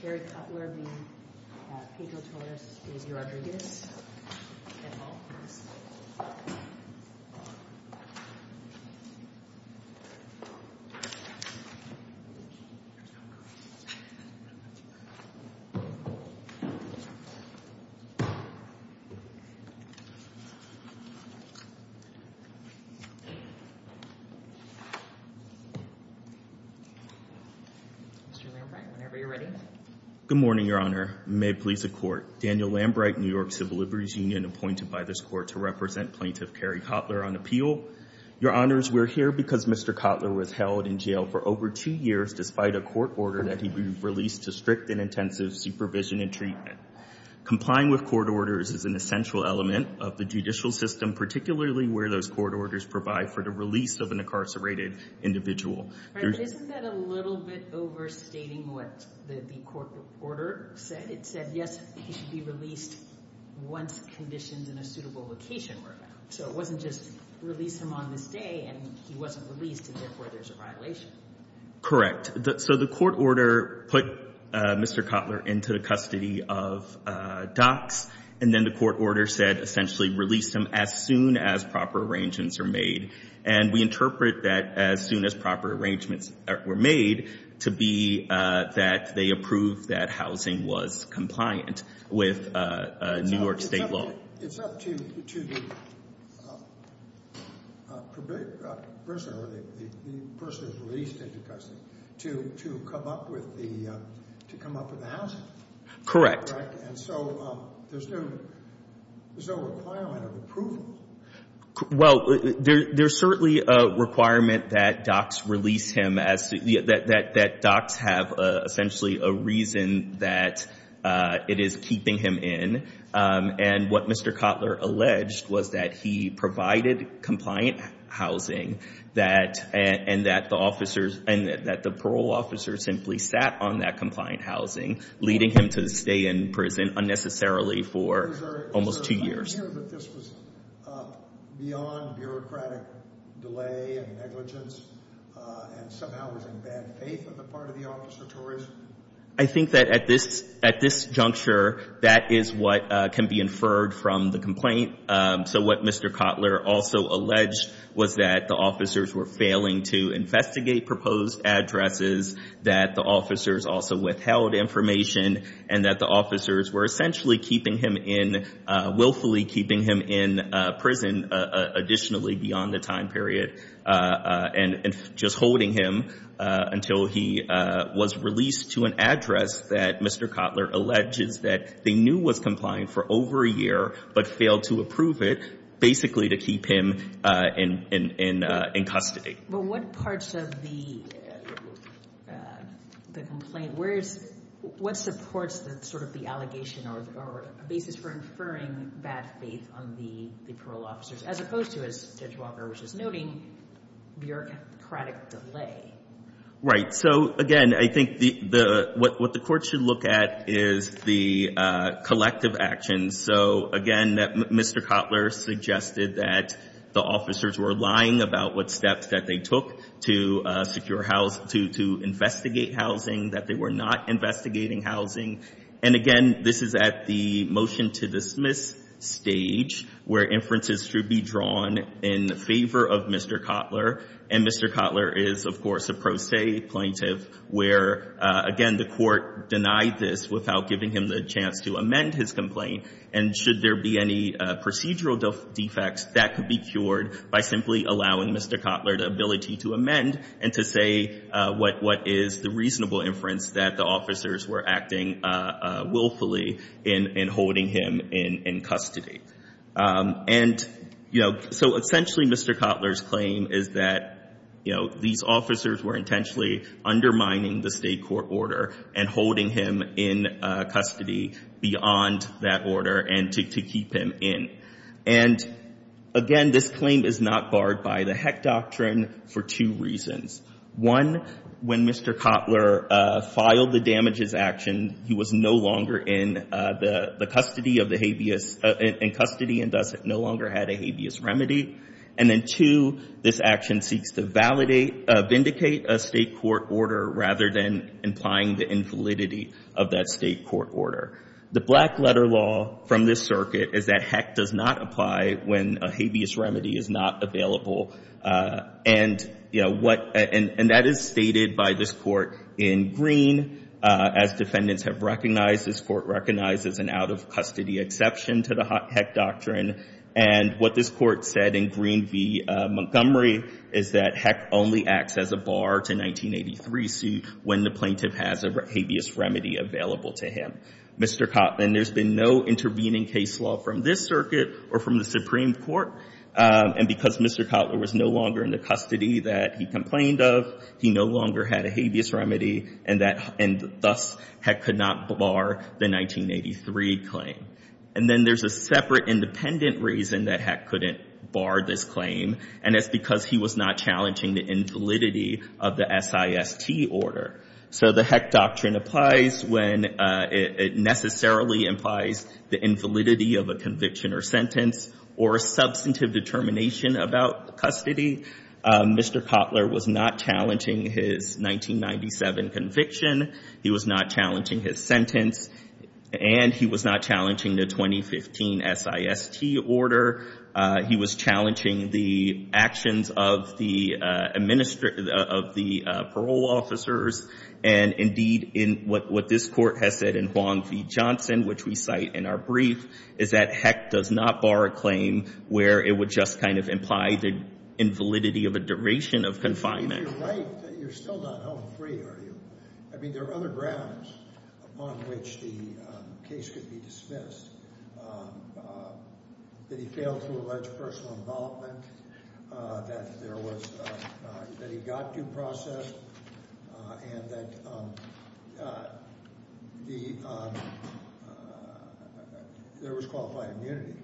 Kerry Cutler v. Pedro Torres v. Rodriguez Good morning, Your Honor. May it please the Court. Daniel Lambright, New York Civil Liberties Union, appointed by this Court to represent Plaintiff Kerry Cutler on appeal. Your Honors, we're here because Mr. Cutler was held in jail for over two years despite a court order that he be released to strict and intensive supervision and treatment. Complying with court orders is an essential element of the judicial system, particularly where those court orders provide for the release of an incarcerated individual. Isn't that a little bit overstating what the court reporter said? It said, yes, he should be released once conditions in a suitable location were found. So it wasn't just release him on this day, and he wasn't released, and therefore there's a violation. Correct. So the court order put Mr. Cutler into the custody of docs, and then the court order said essentially release him as soon as proper arrangements are made. And we interpret that as soon as proper arrangements were made to be that they approve that housing was compliant with New York state law. It's up to the prisoner, the person who's released into custody, to come up with the housing. Correct. And so there's no requirement of approval. Well, there's certainly a requirement that docs release him, that docs have essentially a reason that it is keeping him in. And what Mr. Cutler alleged was that he provided compliant housing, and that the parole officer simply sat on that compliant housing, leading him to stay in prison unnecessarily for almost two years. Did you hear that this was beyond bureaucratic delay and negligence, and somehow was in bad faith on the part of the officer, Torres? I think that at this juncture, that is what can be inferred from the complaint. So what Mr. Cutler also alleged was that the officers were failing to investigate proposed addresses, that the officers also withheld information, and that the officers were essentially keeping him in, willfully keeping him in prison additionally beyond the time period, and just holding him until he was released to an address that Mr. Cutler alleges that they knew was compliant for over a year, but failed to approve it, basically to keep him in custody. But what parts of the complaint, what supports sort of the allegation or basis for inferring bad faith on the parole officers, as opposed to, as Judge Walker was just noting, bureaucratic delay? Right, so again, I think what the court should look at is the collective actions. So again, Mr. Cutler suggested that the officers were lying about what steps that they took to investigate housing, that they were not investigating housing. And again, this is at the motion to dismiss stage, where inferences should be drawn in favor of Mr. Cutler. And Mr. Cutler is, of course, a pro se plaintiff, where again, the court denied this without giving him the chance to amend his complaint. And should there be any procedural defects, that could be cured by simply allowing Mr. Cutler the ability to amend and to say what is the reasonable inference that the officers were acting willfully in holding him in custody. And so essentially, Mr. Cutler's claim is that these officers were intentionally undermining the state court order and holding him in custody beyond that order and to keep him in. And again, this claim is not barred by the Heck Doctrine for two reasons. One, when Mr. Cutler filed the damages action, he was no longer in custody and thus no longer had a habeas remedy. And then two, this action seeks to vindicate a state court order rather than implying the invalidity of that state court order. The black letter law from this circuit is that Heck does not apply when a habeas remedy is not available. And that is stated by this court in green. As defendants have recognized, this court recognizes an out-of-custody exception to the Heck Doctrine. And what this court said in green v. Montgomery is that Heck only acts as a bar to 1983 suit when the plaintiff has a habeas remedy available to him. Mr. Cutler, there's been no intervening case law from this circuit or from the Supreme Court. And because Mr. Cutler was no longer in the custody that he complained of, he no longer had a habeas remedy. And thus, Heck could not bar the 1983 claim. And then there's a separate independent reason that Heck couldn't bar this claim. And it's because he was not challenging the invalidity of the SIST order. So the Heck Doctrine applies when it necessarily implies the invalidity of a conviction or sentence or a substantive determination about custody. Mr. Cutler was not challenging his 1997 conviction. He was not challenging his sentence. And he was not challenging the 2015 SIST order. He was challenging the actions of the parole officers. And indeed, what this court has said in Huang v. Johnson, which we cite in our brief, is that Heck does not bar a claim where it would just kind of imply the invalidity of a duration of confinement. You're right that you're still not home free, are you? I mean, there are other grounds upon which the case could be dismissed, that he failed to allege personal involvement, that he got due process, and that there was qualified immunity.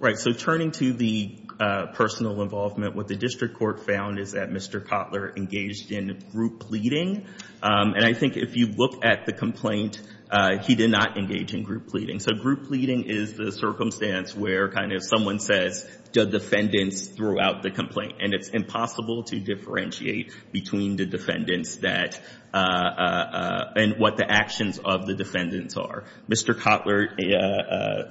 Right, so turning to the personal involvement, what the district court found is that Mr. Cutler engaged in group pleading. And I think if you look at the complaint, he did not engage in group pleading. So group pleading is the circumstance where kind of someone says, the defendants threw out the complaint. And it's impossible to differentiate between the defendants and what the actions of the defendants are. Mr. Cutler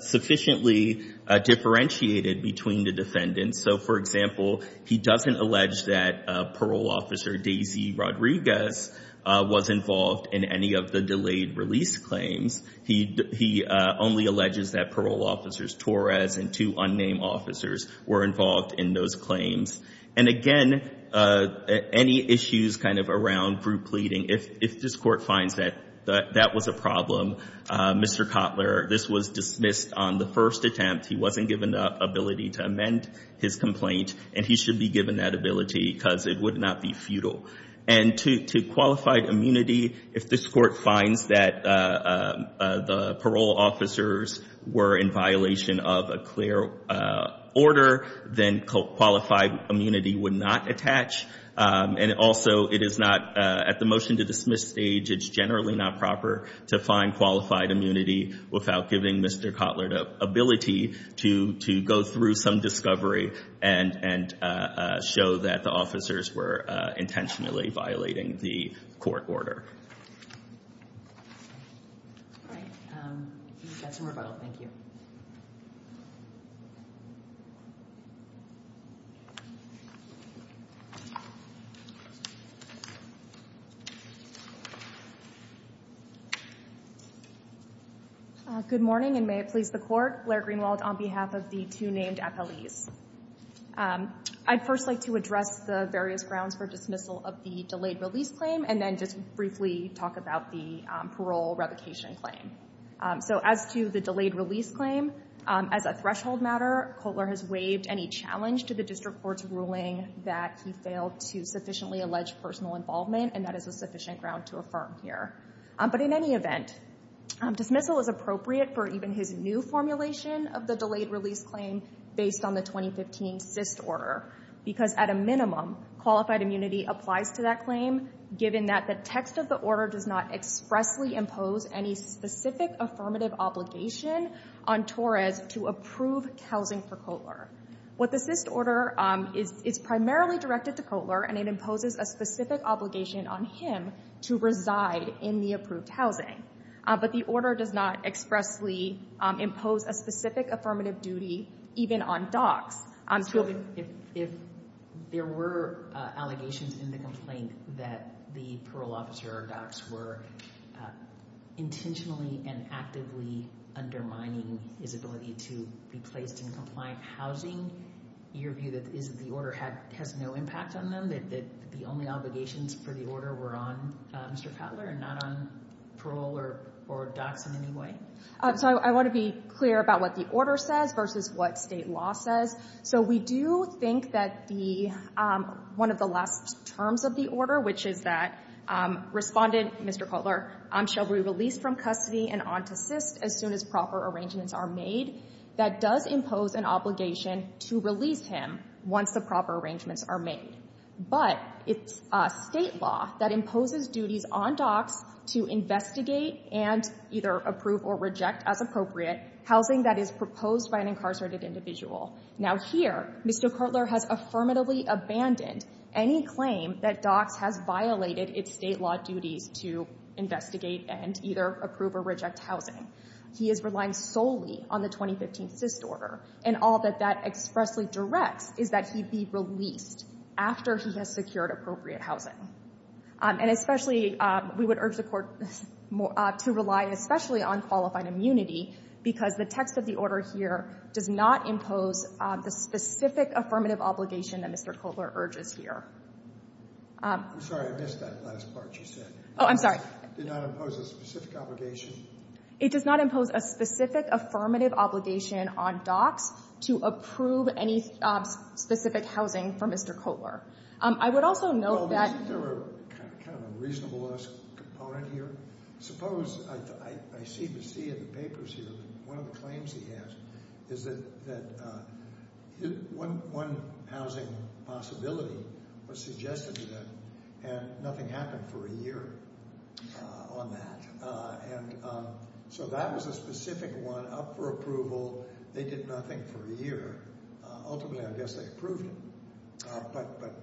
sufficiently differentiated between the defendants. So for example, he doesn't allege that parole officer Daisy Rodriguez was involved in any of the delayed release claims. He only alleges that parole officers Torres and two unnamed officers were involved in those claims. And again, any issues kind of around group pleading, if this court finds that that was a problem, Mr. Cutler, this was dismissed on the first attempt. He wasn't given the ability to amend his complaint. And he should be given that ability because it would not be futile. And to qualified immunity, if this court finds that the parole officers were in violation of a clear order, then qualified immunity would not attach. And also, at the motion to dismiss stage, it's generally not proper to find qualified immunity without giving Mr. Cutler the ability to go through some discovery and show that the officers were intentionally violating the court order. That's a rebuttal. Thank you. Good morning, and may it please the court. Blair Greenwald on behalf of the two named FLEs. I'd first like to address the various grounds for dismissal of the delayed release claim, and then just briefly talk about the parole revocation claim. So as to the delayed release claim, as a threshold matter, Cutler has waived any challenge to the district court's ruling that he failed to sufficiently allege personal involvement. And that is a sufficient ground to affirm here. But in any event, dismissal is appropriate for even his new formulation of the delayed release claim based on the 2015 cyst order. Because at a minimum, qualified immunity applies to that claim, given that the text of the order does not expressly impose any specific affirmative obligation on Torres to approve housing for Cutler. What the cyst order is, it's primarily directed to Cutler, and it imposes a specific obligation on him to reside in the approved housing. But the order does not expressly impose a specific affirmative duty, even on docs. If there were allegations in the complaint that the parole officer or docs were intentionally and actively undermining his ability to be placed in compliant housing, your view is that the order has no impact on them? That the only obligations for the order were on Mr. Cutler and not on parole or docs in any way? So I want to be clear about what the order says versus what state law says. So we do think that one of the last terms of the order, which is that respondent, Mr. Cutler, shall be released from custody and on to cyst as soon as proper arrangements are made. That does impose an obligation to release him once the proper arrangements are made. But it's state law that imposes duties on docs to investigate and either approve or reject as appropriate housing that is proposed by an incarcerated individual. Now here, Mr. Cutler has affirmatively abandoned any claim that docs has violated its state law duties to investigate and either approve or reject housing. He is relying solely on the 2015 cyst order. And all that that expressly directs is that he be released after he has secured appropriate housing. And especially, we would urge the court to rely especially on qualified immunity because the text of the order here does not impose the specific affirmative obligation that Mr. Cutler urges here. I'm sorry, I missed that last part you said. Oh, I'm sorry. Did not impose a specific obligation? It does not impose a specific affirmative obligation on docs to approve any specific housing for Mr. Cutler. I would also note that. Well, isn't there kind of a reasonableness component here? Suppose, I seem to see in the papers here that one of the claims he has is that one housing possibility was suggested to them and nothing happened for a year on that. And so that was a specific one up for approval. They did nothing for a year. Ultimately, I guess they approved it. But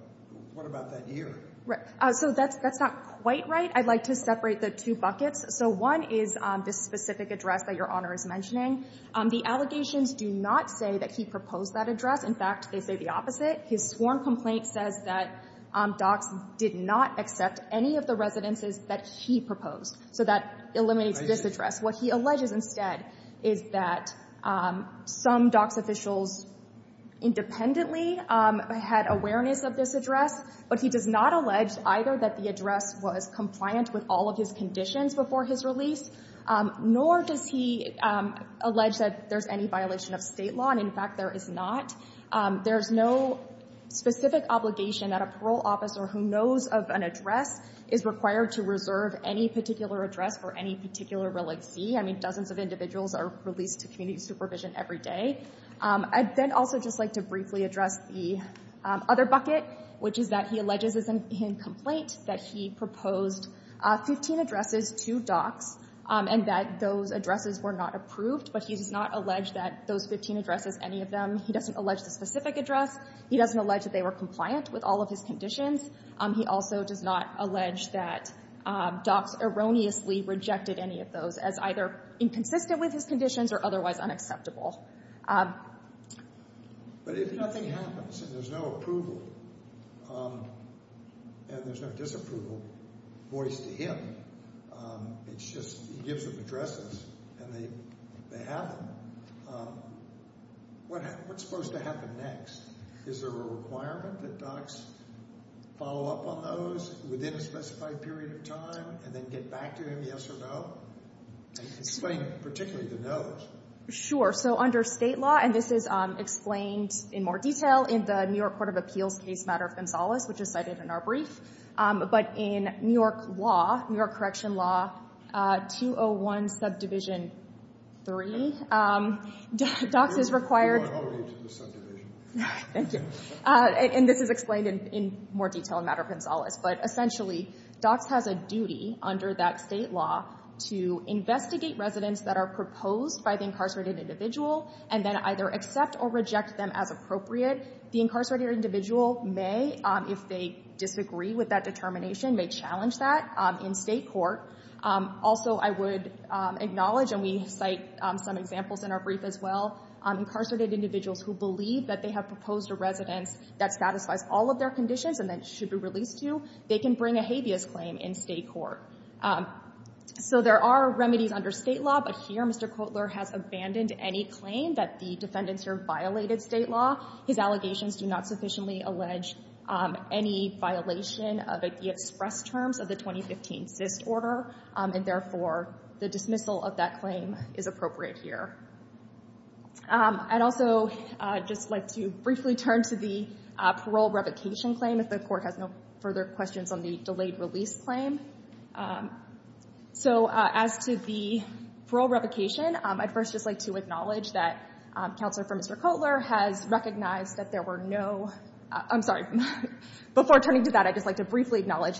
what about that year? So that's not quite right. I'd like to separate the two buckets. So one is this specific address that Your Honor is mentioning. The allegations do not say that he proposed that address. In fact, they say the opposite. His sworn complaint says that docs did not accept any of the residences that he proposed. So that eliminates this address. What he alleges instead is that some docs officials independently had awareness of this address. But he does not allege either that the address was compliant with all of his conditions before his release, nor does he allege that there's any violation of state law. And in fact, there is not. There is no specific obligation that a parole officer who knows of an address is required to reserve any particular address for any particular relaxee. I mean, dozens of individuals are released to community supervision every day. I'd then also just like to briefly address the other bucket, which is that he alleges in his complaint that he proposed 15 addresses to docs and that those addresses were not approved. But he does not allege that those 15 addresses, any of them. He doesn't allege the specific address. He doesn't allege that they were compliant with all of his conditions. He also does not allege that docs erroneously rejected any of those as either inconsistent with his conditions or otherwise unacceptable. But if nothing happens and there's no approval and there's no disapproval voiced to him, it's just he gives them addresses and they have them, what's supposed to happen next? Is there a requirement that docs follow up on those within a specified period of time and then get back to him, yes or no? Explain particularly the no's. Sure. So under state law, and this is explained in more detail in the New York Court of Appeals case matter of Gonzales, which is cited in our brief. But in New York law, New York correction law, 201 subdivision 3, docs is required. I'm going all the way to the subdivision. Thank you. And this is explained in more detail in matter of Gonzales. But essentially, docs has a duty under that state law to investigate residents that are proposed by the incarcerated individual and then either accept or reject them as appropriate. The incarcerated individual may, if they disagree with that determination, may challenge that in state court. Also, I would acknowledge, and we cite some examples in our brief as well, incarcerated individuals who believe that they have proposed a residence that satisfies all of their conditions and that should be released to, they can bring a habeas claim in state court. So there are remedies under state law. But here, Mr. Kotler has abandoned any claim that the defendants here violated state law. His allegations do not sufficiently allege any violation of the express terms of the 2015 cyst order. And therefore, the dismissal of that claim is appropriate here. I'd also just like to briefly turn to the parole revocation claim, if the court has no further questions on the delayed release claim. So as to the parole revocation, I'd first just like to acknowledge that counselor for Mr. Kotler has recognized that there were no, I'm sorry, before turning to that, I'd just like to briefly acknowledge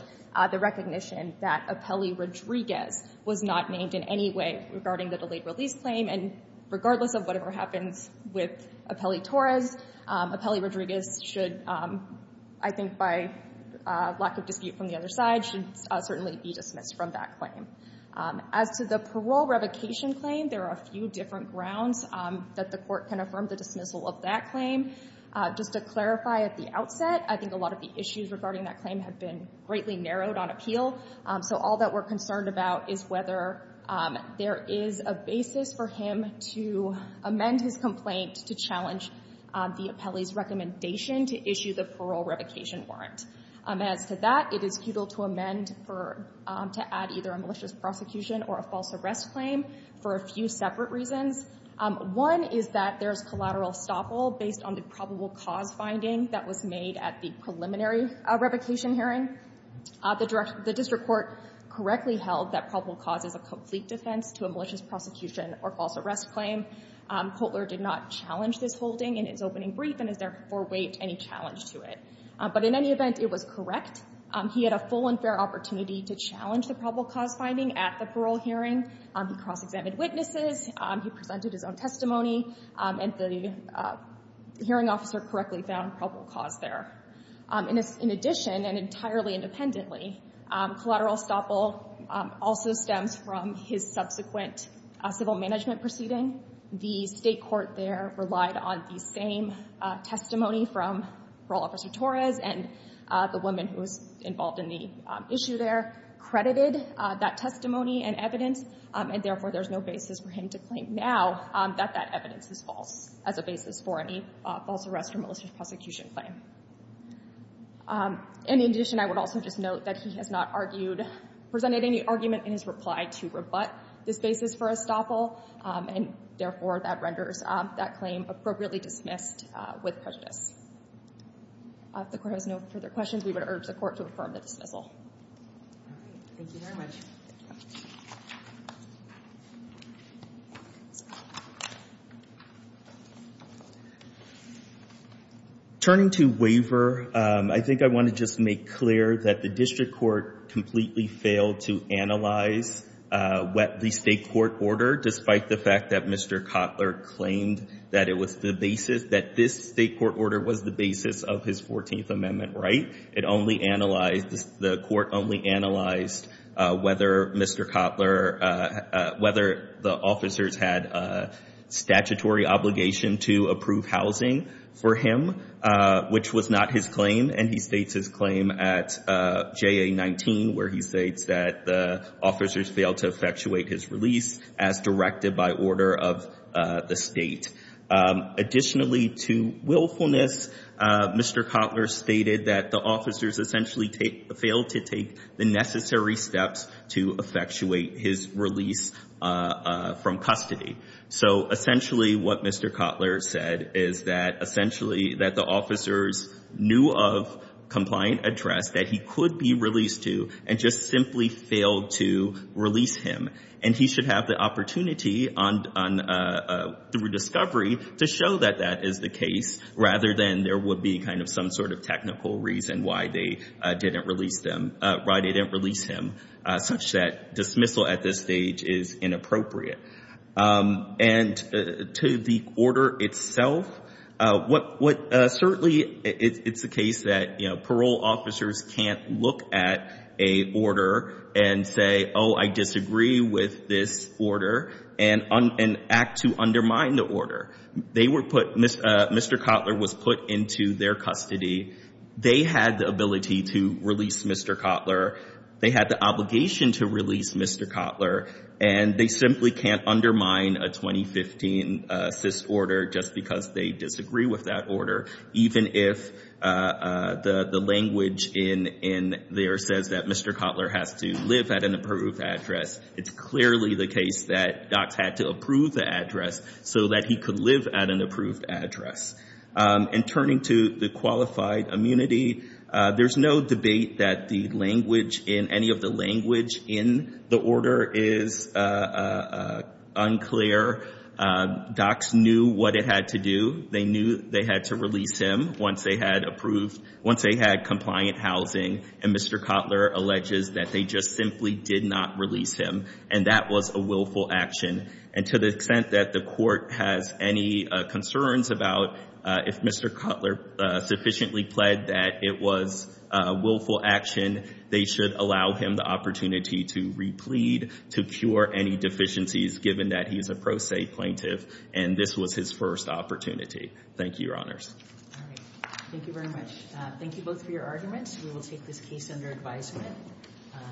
the recognition that Apelli Rodriguez was not named in any way regarding the delayed release claim. And regardless of whatever happens with Apelli Torres, Apelli Rodriguez should, I think by lack of dispute from the other side, should certainly be dismissed from that claim. As to the parole revocation claim, there are a few different grounds that the court can affirm the dismissal of that claim. Just to clarify at the outset, I think a lot of the issues regarding that claim have been greatly narrowed on appeal. So all that we're concerned about is whether there is a basis for him to amend his complaint to challenge the Apelli's recommendation to issue the parole revocation warrant. As to that, it is futile to amend or to add either a malicious prosecution or a false arrest claim for a few separate reasons. One is that there is collateral estoppel based on the probable cause finding that was made at the preliminary revocation hearing. The district court correctly held that probable cause is a complete defense to a malicious prosecution or false arrest claim. Kotler did not challenge this holding in his opening brief and has therefore waived any challenge to it. But in any event, it was correct. He had a full and fair opportunity to challenge the probable cause finding at the parole hearing. He cross-examined witnesses. He presented his own testimony. And the hearing officer correctly found probable cause there. In addition, and entirely independently, collateral estoppel also stems from his subsequent civil management proceeding. The state court there relied on the same testimony from parole officer Torres. And the woman who was involved in the issue there credited that testimony and evidence. And therefore, there's no basis for him to claim now that that evidence is false as a basis for any false arrest or malicious prosecution claim. And in addition, I would also just note that he has not presented any argument in his reply to rebut this basis for estoppel. And therefore, that renders that claim appropriately dismissed with prejudice. If the court has no further questions, we would urge the court to affirm the dismissal. All right. Thank you very much. Turning to waiver, I think I want to just make clear that the district court completely failed to analyze the state court order, despite the fact that Mr. Kotler claimed that this state court order was the basis of his 14th Amendment right. The court only analyzed whether the officers had a statutory obligation to approve housing for him, which was not his claim. And he states his claim at JA-19, where he states that the officers failed to effectuate his release as directed by order of the state. Additionally to willfulness, Mr. Kotler stated that the officers essentially failed to take the necessary steps to effectuate his release from custody. So essentially, what Mr. Kotler said is that essentially, that the officers knew of compliant address that he could be released to, and just simply failed to release him. And he should have the opportunity through discovery to show that that is the case, rather than there would be some sort of technical reason why they didn't release him, such that dismissal at this stage is inappropriate. And to the order itself, certainly it's the case that parole officers can't look at a order and say, oh, I disagree with this order, and act to undermine the order. Mr. Kotler was put into their custody. They had the ability to release Mr. Kotler. They had the obligation to release Mr. Kotler. And they simply can't undermine a 2015 CIS order, just because they disagree with that order. Even if the language in there says that Mr. Kotler has to live at an approved address, it's clearly the case that docs had to approve the address, so that he could live at an approved address. And turning to the qualified immunity, there's no debate that the language in any of the language in the order is unclear. Docs knew what it had to do. They knew they had to release him once they had approved, once they had compliant housing. And Mr. Kotler alleges that they just simply did not release him. And that was a willful action. And to the extent that the court has any concerns about if Mr. Kotler sufficiently pled that it was a willful action, they should allow him the opportunity to replead to cure any deficiencies, given that he is a pro se plaintiff. And this was his first opportunity. Thank you, Your Honors. Thank you very much. Thank you both for your arguments. We will take this case under advisement.